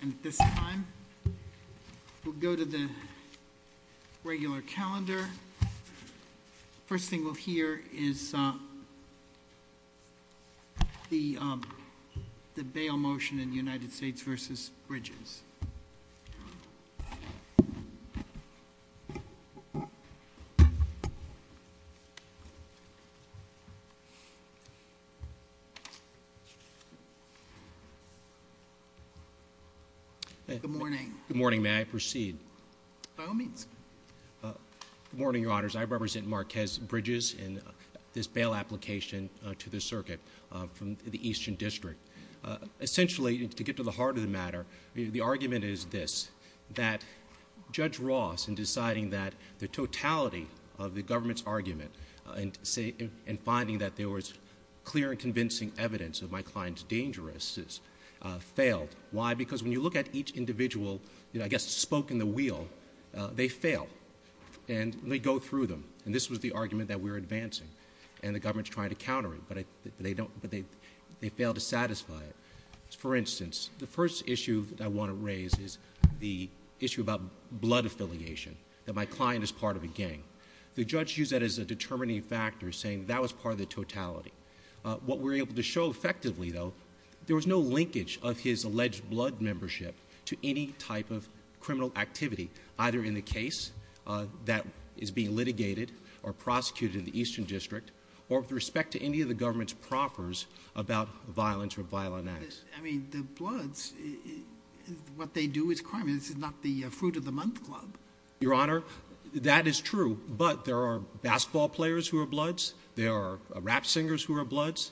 And at this time, we'll go to the regular calendar. First thing we'll hear is the bail motion in the United States versus Bridges. Good morning. Good morning, may I proceed? By all means. Morning, your honors. I represent Marquez Bridges in this bail application to the circuit from the Eastern District. Essentially, to get to the heart of the matter, the argument is this. That Judge Ross, in deciding that the totality of the government's argument, and finding that there was clear and convincing evidence of my client's dangerousness, failed. Why? Because when you look at each individual, I guess, spoke in the wheel, they fail. And they go through them, and this was the argument that we're advancing. And the government's trying to counter it, but they fail to satisfy it. For instance, the first issue that I want to raise is the issue about blood affiliation, that my client is part of a gang. The judge used that as a determining factor, saying that was part of the totality. What we're able to show effectively, though, there was no linkage of his alleged blood membership to any type of criminal activity. Either in the case that is being litigated or prosecuted in the Eastern District, or with respect to any of the government's proffers about violence or violent acts. I mean, the bloods, what they do is crime. This is not the fruit of the month club. Your honor, that is true, but there are basketball players who are bloods. There are rap singers who are bloods.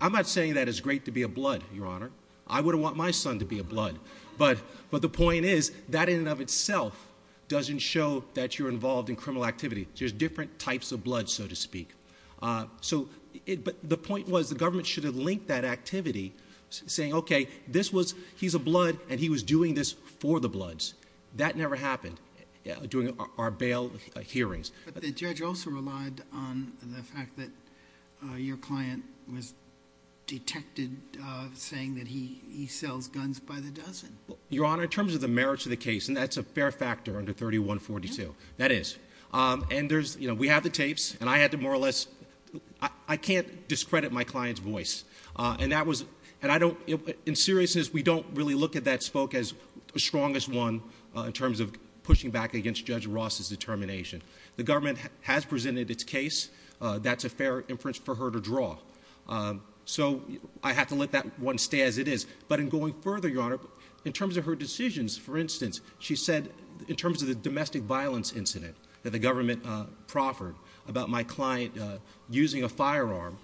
I'm not saying that it's great to be a blood, your honor. I would have want my son to be a blood. But the point is, that in and of itself doesn't show that you're involved in criminal activity. There's different types of blood, so to speak. But the point was, the government should have linked that activity, saying, okay, he's a blood, and he was doing this for the bloods. That never happened during our bail hearings. But the judge also relied on the fact that your client was detected saying that he sells guns by the dozen. Your honor, in terms of the merits of the case, and that's a fair factor under 3142, that is. And we have the tapes, and I had to more or less, I can't discredit my client's voice. And that was, in seriousness, we don't really look at that spoke as the strongest one in terms of pushing back against Judge Ross's determination. The government has presented its case, that's a fair inference for her to draw. So, I have to let that one stay as it is. But in going further, your honor, in terms of her decisions, for instance, she said, in terms of the domestic violence incident that the government proffered about my client using a firearm.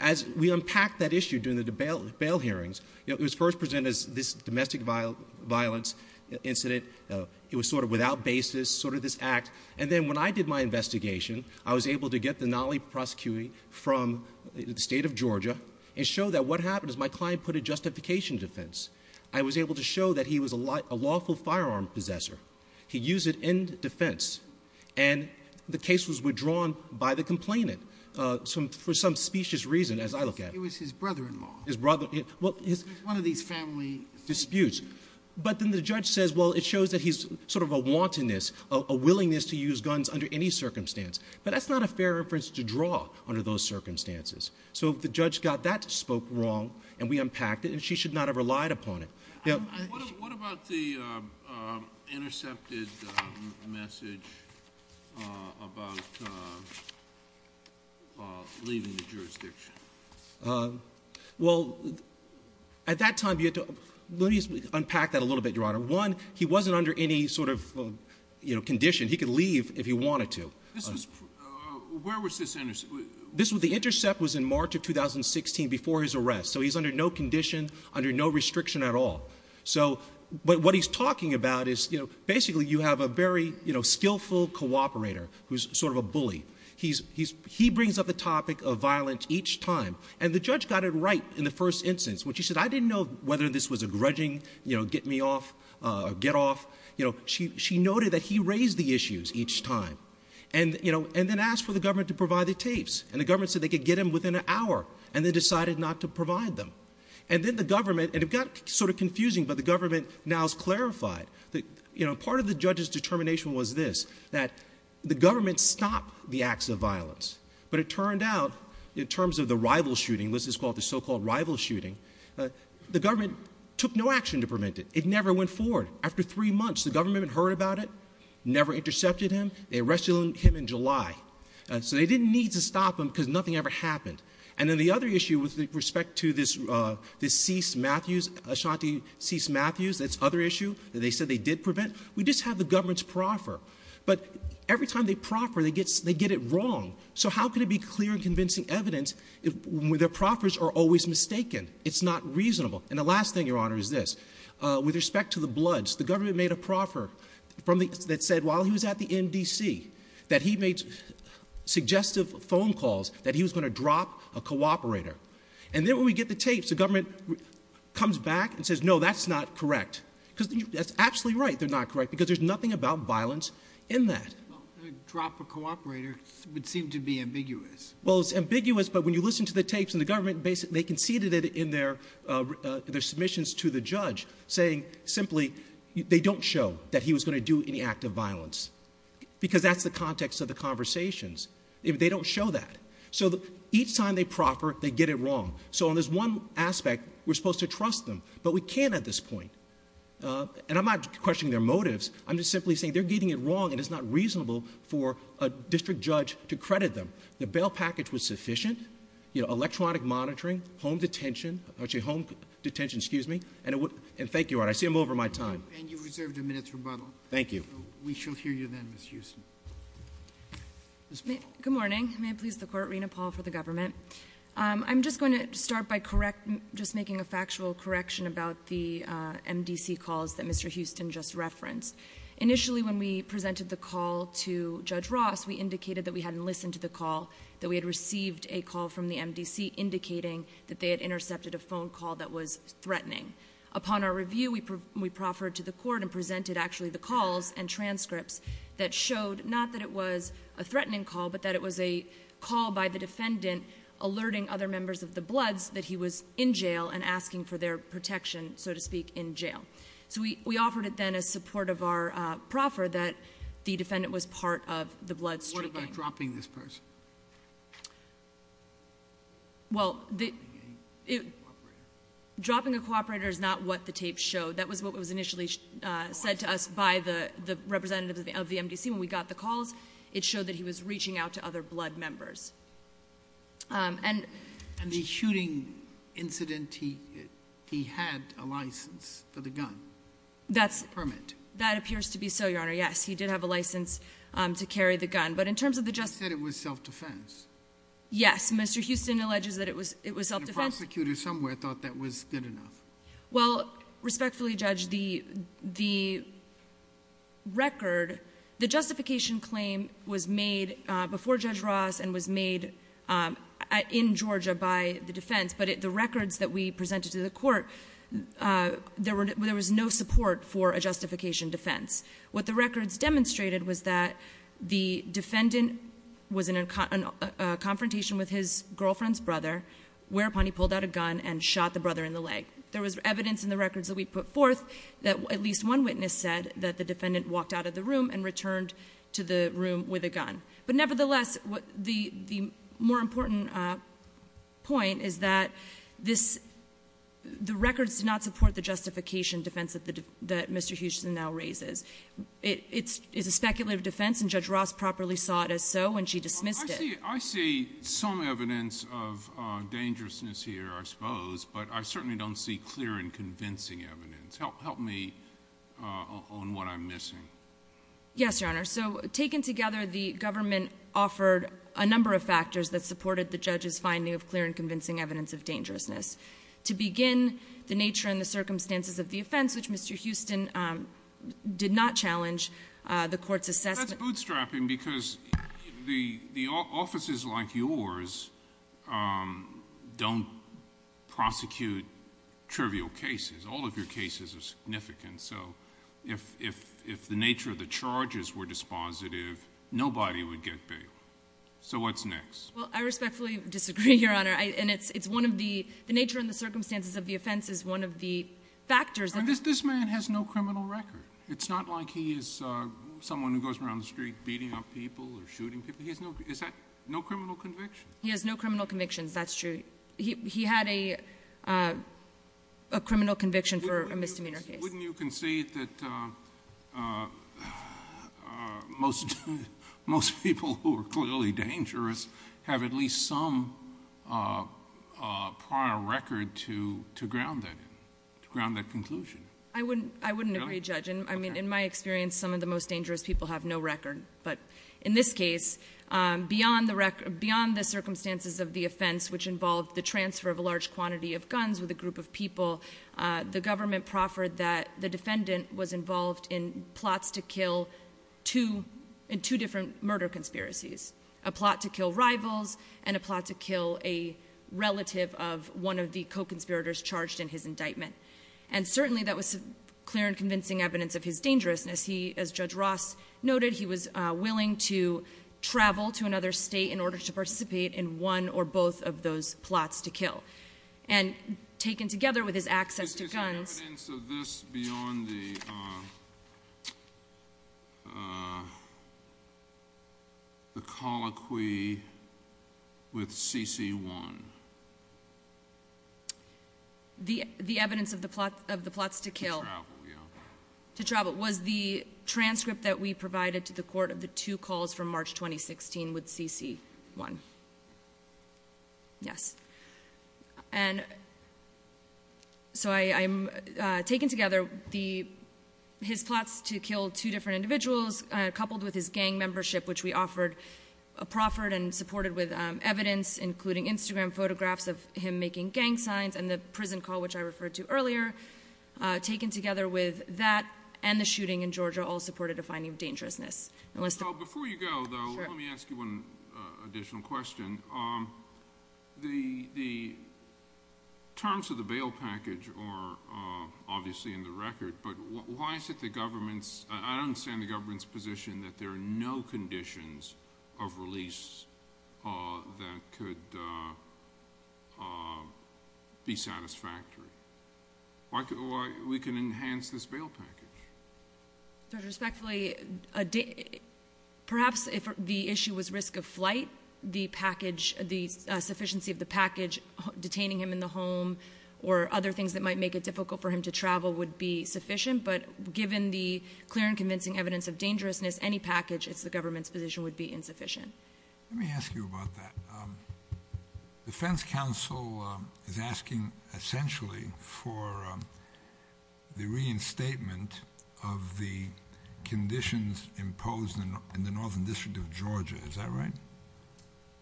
As we unpacked that issue during the bail hearings, it was first presented as this domestic violence incident. It was sort of without basis, sort of this act. And then when I did my investigation, I was able to get the Nali prosecuting from the state of Georgia and show that what happened is my client put a justification defense. I was able to show that he was a lawful firearm possessor. He used it in defense. And the case was withdrawn by the complainant for some specious reason as I look at it. It was his brother-in-law. His brother-in-law. Well, it's one of these family disputes. But then the judge says, well, it shows that he's sort of a wantonness, a willingness to use guns under any circumstance. But that's not a fair reference to draw under those circumstances. So if the judge got that spoke wrong, and we unpacked it, and she should not have relied upon it. What about the intercepted message about leaving the jurisdiction? Well, at that time, let me unpack that a little bit, your honor. One, he wasn't under any sort of condition. He could leave if he wanted to. Where was this intercepted? The intercept was in March of 2016 before his arrest. So he's under no condition, under no restriction at all. So what he's talking about is basically you have a very skillful cooperator who's sort of a bully. He brings up the topic of violence each time. And the judge got it right in the first instance when she said, I didn't know whether this was a grudging, get me off, get off. She noted that he raised the issues each time. And then asked for the government to provide the tapes. And the government said they could get them within an hour. And they decided not to provide them. And then the government, and it got sort of confusing, but the government now has clarified. Part of the judge's determination was this, that the government stopped the acts of violence. But it turned out, in terms of the rival shooting, this is called the so-called rival shooting, the government took no action to prevent it. It never went forward. After three months, the government heard about it, never intercepted him. They arrested him in July. So they didn't need to stop him because nothing ever happened. And then the other issue with respect to this Cease Matthews, Ashanti Cease Matthews, this other issue that they said they did prevent, we just have the government's proffer. But every time they proffer, they get it wrong. So how can it be clear and convincing evidence when their proffers are always mistaken? It's not reasonable. And the last thing, Your Honor, is this. With respect to the bloods, the government made a proffer that said while he was at the NDC, that he made suggestive phone calls that he was going to drop a cooperator. And then when we get the tapes, the government comes back and says, no, that's not correct. because that's absolutely right, they're not correct, because there's nothing about violence in that. Drop a cooperator would seem to be ambiguous. Well, it's ambiguous, but when you listen to the tapes in the government, they conceded it in their submissions to the judge, saying simply, they don't show that he was going to do any act of violence. Because that's the context of the conversations. They don't show that. So each time they proffer, they get it wrong. So on this one aspect, we're supposed to trust them, but we can't at this point. And I'm not questioning their motives. I'm just simply saying they're getting it wrong, and it's not reasonable for a district judge to credit them. The bail package was sufficient, electronic monitoring, home detention, home detention, excuse me. And thank you, Your Honor, I see I'm over my time. And you reserved a minute's rebuttal. Thank you. We shall hear you then, Ms. Houston. Ms. Paul. Good morning. May it please the court, Rena Paul for the government. I'm just going to start by just making a factual correction about the MDC calls that Mr. Houston just referenced. Initially, when we presented the call to Judge Ross, we indicated that we hadn't listened to the call, that we had received a call from the MDC indicating that they had intercepted a phone call that was threatening. Upon our review, we proffered to the court and presented actually the calls and transcripts that showed, not that it was a threatening call, but that it was a call by the defendant alerting other members of the Bloods that he was in jail and asking for their protection, so to speak, in jail. So we offered it then as support of our proffer that the defendant was part of the Bloods. What about dropping this person? Well, dropping a cooperator is not what the tape showed. That was what was initially said to us by the representative of the MDC when we got the calls. It showed that he was reaching out to other Blood members. And- And the shooting incident, he had a license for the gun, a permit. That appears to be so, Your Honor, yes. He did have a license to carry the gun. But in terms of the just- He said it was self-defense. Yes, Mr. Houston alleges that it was self-defense. The prosecutor somewhere thought that was good enough. Well, respectfully, Judge, the record, the justification claim was made before Judge Ross and was made in Georgia by the defense. But the records that we presented to the court, there was no support for a justification defense. What the records demonstrated was that the defendant was in a confrontation with his girlfriend's brother. Whereupon he pulled out a gun and shot the brother in the leg. There was evidence in the records that we put forth that at least one witness said that the defendant walked out of the room and returned to the room with a gun. But nevertheless, the more important point is that the records do not support the justification defense that Mr. Houston now raises. It is a speculative defense and Judge Ross properly saw it as so when she dismissed it. I see some evidence of dangerousness here, I suppose, but I certainly don't see clear and convincing evidence. Yes, Your Honor. So taken together, the government offered a number of factors that supported the judge's finding of clear and convincing evidence of dangerousness. To begin, the nature and the circumstances of the offense, which Mr. Houston did not challenge, the court's assessment- That's bootstrapping because the offices like yours don't prosecute trivial cases, all of your cases are significant. And so if the nature of the charges were dispositive, nobody would get bailed. So what's next? Well, I respectfully disagree, Your Honor, and it's one of the, the nature and the circumstances of the offense is one of the factors- This man has no criminal record. It's not like he is someone who goes around the street beating up people or shooting people. He has no, is that, no criminal convictions? He has no criminal convictions, that's true. He had a criminal conviction for a misdemeanor case. Wouldn't you concede that most people who are clearly dangerous have at least some prior record to ground that in, to ground that conclusion? I wouldn't agree, Judge. I mean, in my experience, some of the most dangerous people have no record. But in this case, beyond the circumstances of the offense, which involved the transfer of a large quantity of guns with a group of people, the government proffered that the defendant was involved in plots to kill in two different murder conspiracies. A plot to kill rivals and a plot to kill a relative of one of the co-conspirators charged in his indictment. And certainly, that was clear and convincing evidence of his dangerousness. He, as Judge Ross noted, he was willing to travel to another state in order to participate in one or both of those plots to kill, and taken together with his access to guns. Is there evidence of this beyond the colloquy with CC1? The evidence of the plots to kill. To travel, yeah. To travel, was the transcript that we provided to the court of the two calls from March 2016 with CC1. Yes, and so I'm taking together his plots to kill two different individuals. Coupled with his gang membership, which we offered, proffered and supported with evidence, including Instagram photographs of him making gang signs and the prison call, which I referred to earlier. Taken together with that and the shooting in Georgia, all supported a finding of dangerousness. So before you go, though, let me ask you one additional question. The terms of the bail package are obviously in the record, but why is it the government's, I don't understand the government's position that there are no conditions of release that could be satisfactory. Why, we can enhance this bail package. So respectfully, perhaps if the issue was risk of flight, the package, the sufficiency of the package detaining him in the home or other things that might make it difficult for him to travel would be sufficient. But given the clear and convincing evidence of dangerousness, any package, it's the government's position would be insufficient. Let me ask you about that. The defense counsel is asking essentially for the reinstatement of the conditions imposed in the northern district of Georgia. Is that right?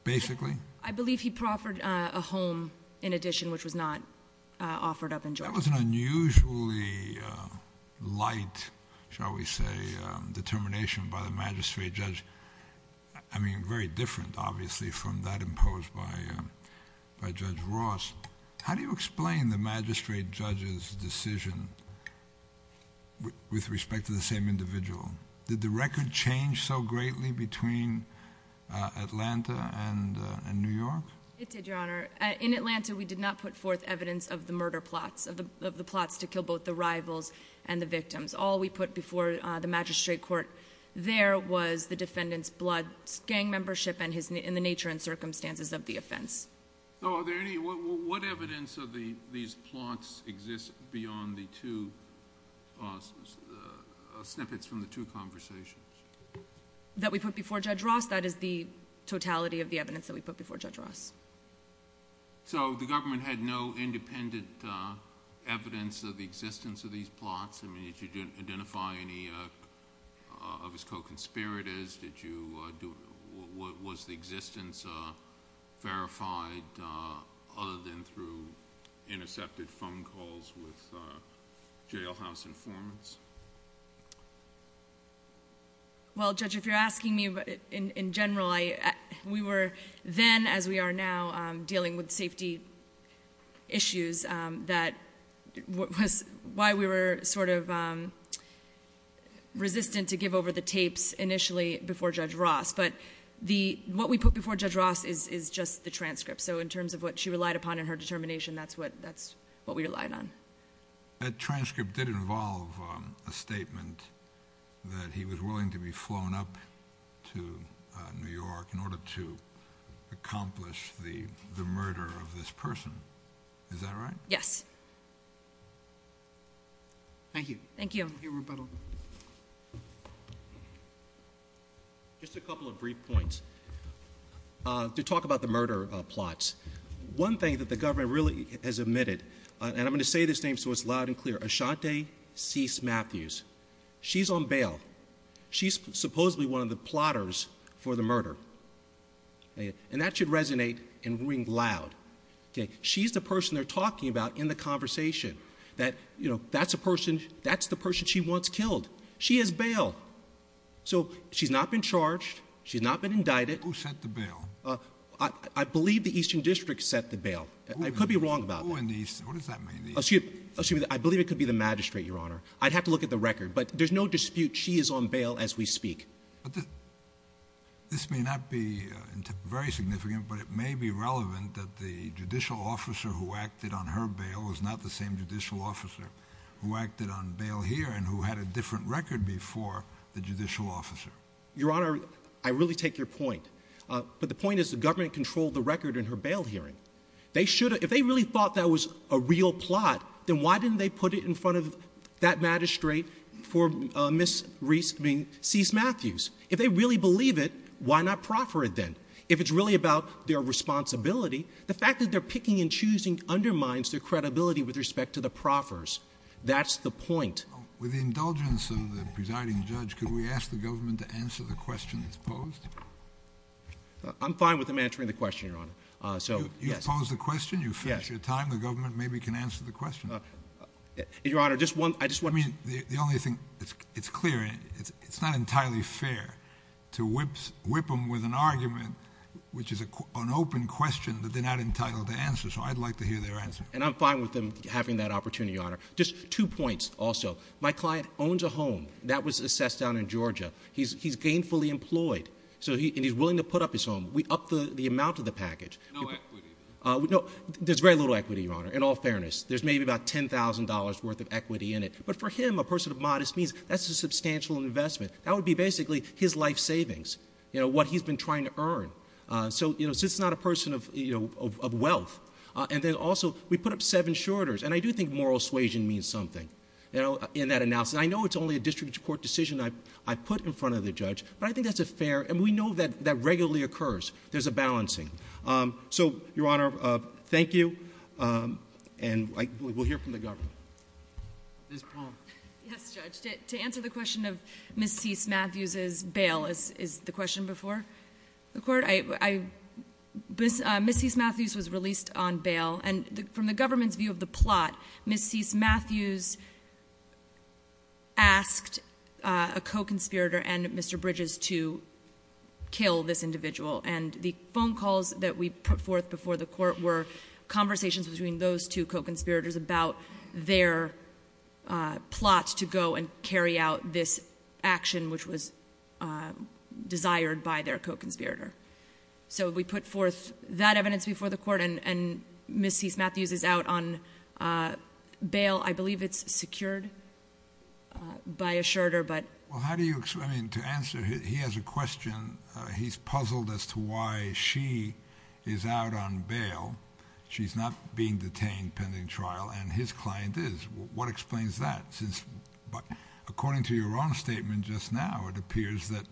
Basically? I believe he proffered a home in addition, which was not offered up in Georgia. That was an unusually light, shall we say, determination by the magistrate judge. I mean, very different, obviously, from that imposed by Judge Ross. How do you explain the magistrate judge's decision with respect to the same individual? Did the record change so greatly between Atlanta and New York? It did, Your Honor. In Atlanta, we did not put forth evidence of the murder plots, of the plots to kill both the rivals and the victims. All we put before the magistrate court there was the defendant's blood, gang membership, and the nature and circumstances of the offense. So are there any, what evidence of these plots exist beyond the two snippets from the two conversations? That we put before Judge Ross, that is the totality of the evidence that we put before Judge Ross. So the government had no independent evidence of the existence of these plots? I mean, did you identify any of his co-conspirators? Did you, was the existence verified other than through intercepted phone calls with jailhouse informants? Well, Judge, if you're asking me in general, we were then, as we are now, dealing with safety issues. That was why we were sort of resistant to give over the tapes initially before Judge Ross. But what we put before Judge Ross is just the transcript. So in terms of what she relied upon in her determination, that's what we relied on. That transcript did involve a statement that he was willing to be flown up to New York in order to accomplish the murder of this person. Is that right? Yes. Thank you. Thank you, Rebuttal. Just a couple of brief points to talk about the murder plots. One thing that the government really has admitted, and I'm going to say this name so it's loud and clear, Ashanti Cease Matthews. She's on bail. She's supposedly one of the plotters for the murder. And that should resonate and ring loud. She's the person they're talking about in the conversation. That's the person she once killed. She is bailed. So she's not been charged. She's not been indicted. Who set the bail? I believe the Eastern District set the bail. I could be wrong about that. Who in the Eastern, what does that mean? Excuse me, I believe it could be the magistrate, your honor. I'd have to look at the record, but there's no dispute she is on bail as we speak. But this may not be very significant, but it may be relevant that the judicial officer who acted on her bail was not the same judicial officer who acted on bail here and who had a different record before the judicial officer. Your honor, I really take your point. But the point is the government controlled the record in her bail hearing. They should, if they really thought that was a real plot, then why didn't they put it in front of that magistrate for Ms. Reese, I mean, Cease Matthews? If they really believe it, why not proffer it then? If it's really about their responsibility, the fact that they're picking and choosing undermines their credibility with respect to the proffers. That's the point. With the indulgence of the presiding judge, could we ask the government to answer the question that's posed? So, yes. You've posed the question, you've finished your time, the government maybe can answer the question. Your honor, I just want- I mean, the only thing, it's clear, it's not entirely fair to whip them with an argument, which is an open question that they're not entitled to answer, so I'd like to hear their answer. And I'm fine with them having that opportunity, your honor. Just two points, also. My client owns a home that was assessed down in Georgia. He's gainfully employed, and he's willing to put up his home. We upped the amount of the package. No equity. No, there's very little equity, your honor, in all fairness. There's maybe about $10,000 worth of equity in it. But for him, a person of modest means, that's a substantial investment. That would be basically his life savings, what he's been trying to earn. So, since he's not a person of wealth, and then also, we put up seven shorters. And I do think moral suasion means something in that analysis. I know it's only a district court decision I put in front of the judge, but I think that's a fair, and we know that that regularly occurs. There's a balancing. So, your honor, thank you, and we'll hear from the government. Ms. Palm. Yes, Judge. To answer the question of Ms. Cease-Matthews' bail, is the question before the court? Ms. Cease-Matthews was released on bail, and from the government's view of the plot, Ms. Cease-Matthews asked a co-conspirator and Mr. Bridges to kill this individual. And the phone calls that we put forth before the court were conversations between those two co-conspirators about their plot to go and carry out this action, which was desired by their co-conspirator. So, we put forth that evidence before the court, and Ms. Cease-Matthews is out on bail. I believe it's secured by a shirter, but- Well, how do you, I mean, to answer, he has a question. He's puzzled as to why she is out on bail. She's not being detained pending trial, and his client is. What explains that, since, according to your own statement just now, it appears that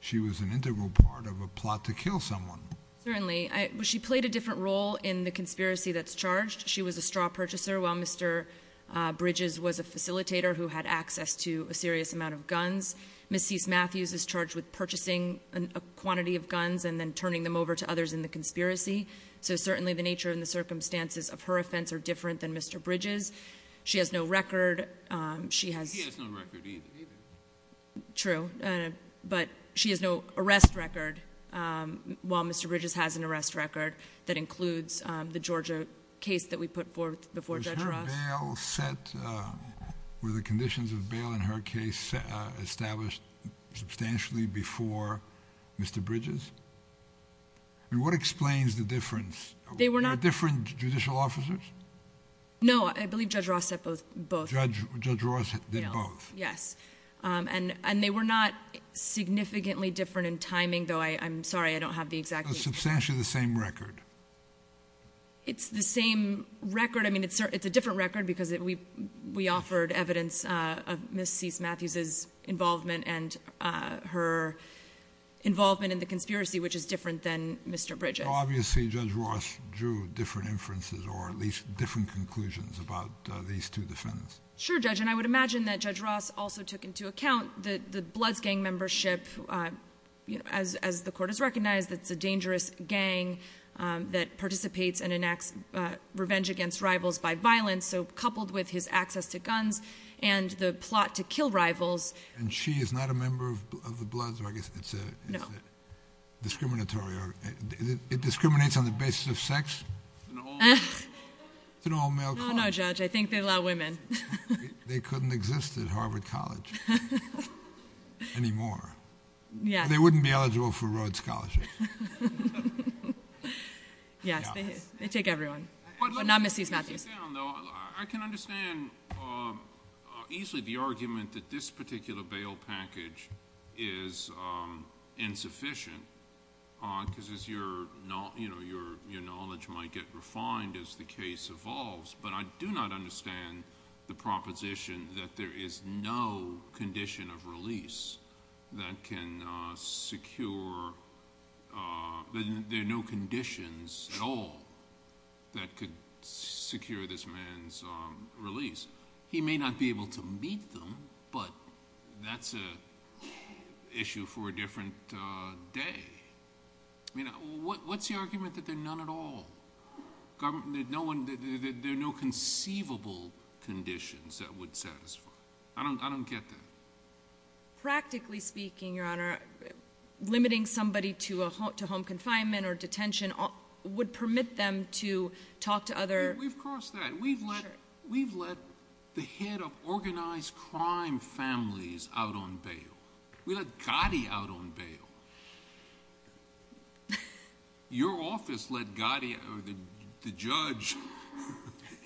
she was an integral part of a plot to kill someone. Certainly, she played a different role in the conspiracy that's charged. She was a straw purchaser, while Mr. Bridges was a facilitator who had access to a serious amount of guns. Ms. Cease-Matthews is charged with purchasing a quantity of guns and then turning them over to others in the conspiracy. So certainly, the nature and the circumstances of her offense are different than Mr. Bridges. She has no record. She has- He has no record either. True, but she has no arrest record, while Mr. Bridges has an arrest record that includes the Georgia case that we put forth before Judge Ross. Was her bail set, were the conditions of bail in her case established substantially before Mr. Bridges? I mean, what explains the difference? They were not- Were there different judicial officers? No, I believe Judge Ross set both. Judge Ross did both. Yes, and they were not significantly different in timing, though I'm sorry, I don't have the exact- Substantially the same record. It's the same record. I mean, it's a different record because we offered evidence of Ms. Cease-Matthews' involvement and her involvement in the conspiracy, which is different than Mr. Bridges. Obviously, Judge Ross drew different inferences or at least different conclusions about these two defendants. Sure, Judge, and I would imagine that Judge Ross also took into account the Bloods gang membership. As the court has recognized, it's a dangerous gang that participates and enacts revenge against rivals by violence, so coupled with his access to guns and the plot to kill rivals. And she is not a member of the Bloods, or I guess it's a- No. Discriminatory, or it discriminates on the basis of sex? It's an all-male club. No, no, Judge, I think they allow women. They couldn't exist at Harvard College anymore. Yeah. They wouldn't be eligible for Rhodes Scholarship. Yes, they take everyone, but not Ms. Cease-Matthews. I can understand easily the argument that this particular bail package is insufficient, because your knowledge might get refined as the case evolves. But I do not understand the proposition that there is no condition of release that can secure- that there are no conditions at all that could secure this man's release. He may not be able to meet them, but that's an issue for a different day. I mean, what's the argument that there are none at all? There are no conceivable conditions that would satisfy. I don't get that. Practically speaking, Your Honor, limiting somebody to home confinement or detention would permit them to talk to other- We've crossed that. We've let the head of organized crime families out on bail. We let Gotti out on bail. Your office let Gotti, the judge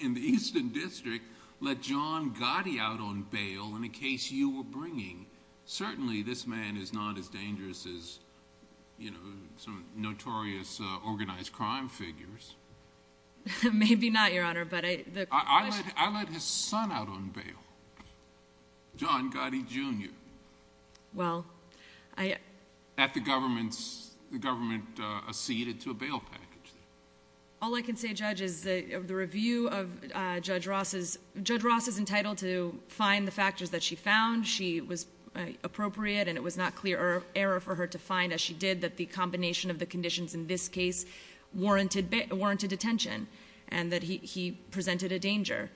in the Eastern District, let John Gotti out on bail in a case you were bringing. Certainly, this man is not as dangerous as some notorious organized crime figures. Maybe not, Your Honor, but I- I let his son out on bail, John Gotti Jr. Well, I- At the government's, the government acceded to a bail package. All I can say, Judge, is the review of Judge Ross's, Judge Ross is entitled to find the factors that she found. She was appropriate, and it was not clear or error for her to find, as she did, that the combination of the conditions in this case warranted detention, and that he presented a danger.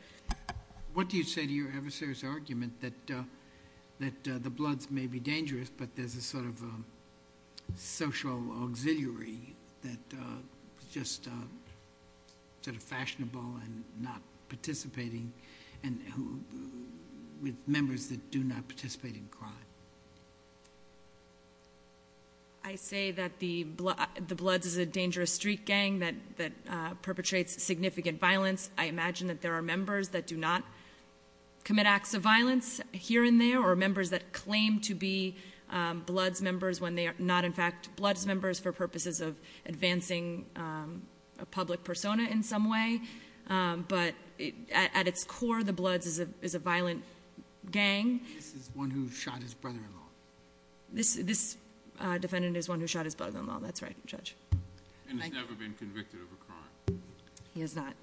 What do you say to your adversaries' argument that the Bloods may be dangerous, but there's a sort of social auxiliary that just sort of fashionable and not participating, and with members that do not participate in crime? I say that the Bloods is a dangerous street gang that perpetrates significant violence. I imagine that there are members that do not commit acts of violence here and there, or members that claim to be Bloods members when they are not, in fact, Bloods members for purposes of advancing a public persona in some way. But at its core, the Bloods is a violent gang. This is one who shot his brother-in-law. This defendant is one who shot his brother-in-law, that's right, Judge. And has never been convicted of a crime. He has not.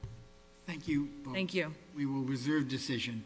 Thank you. Thank you. We will reserve decision.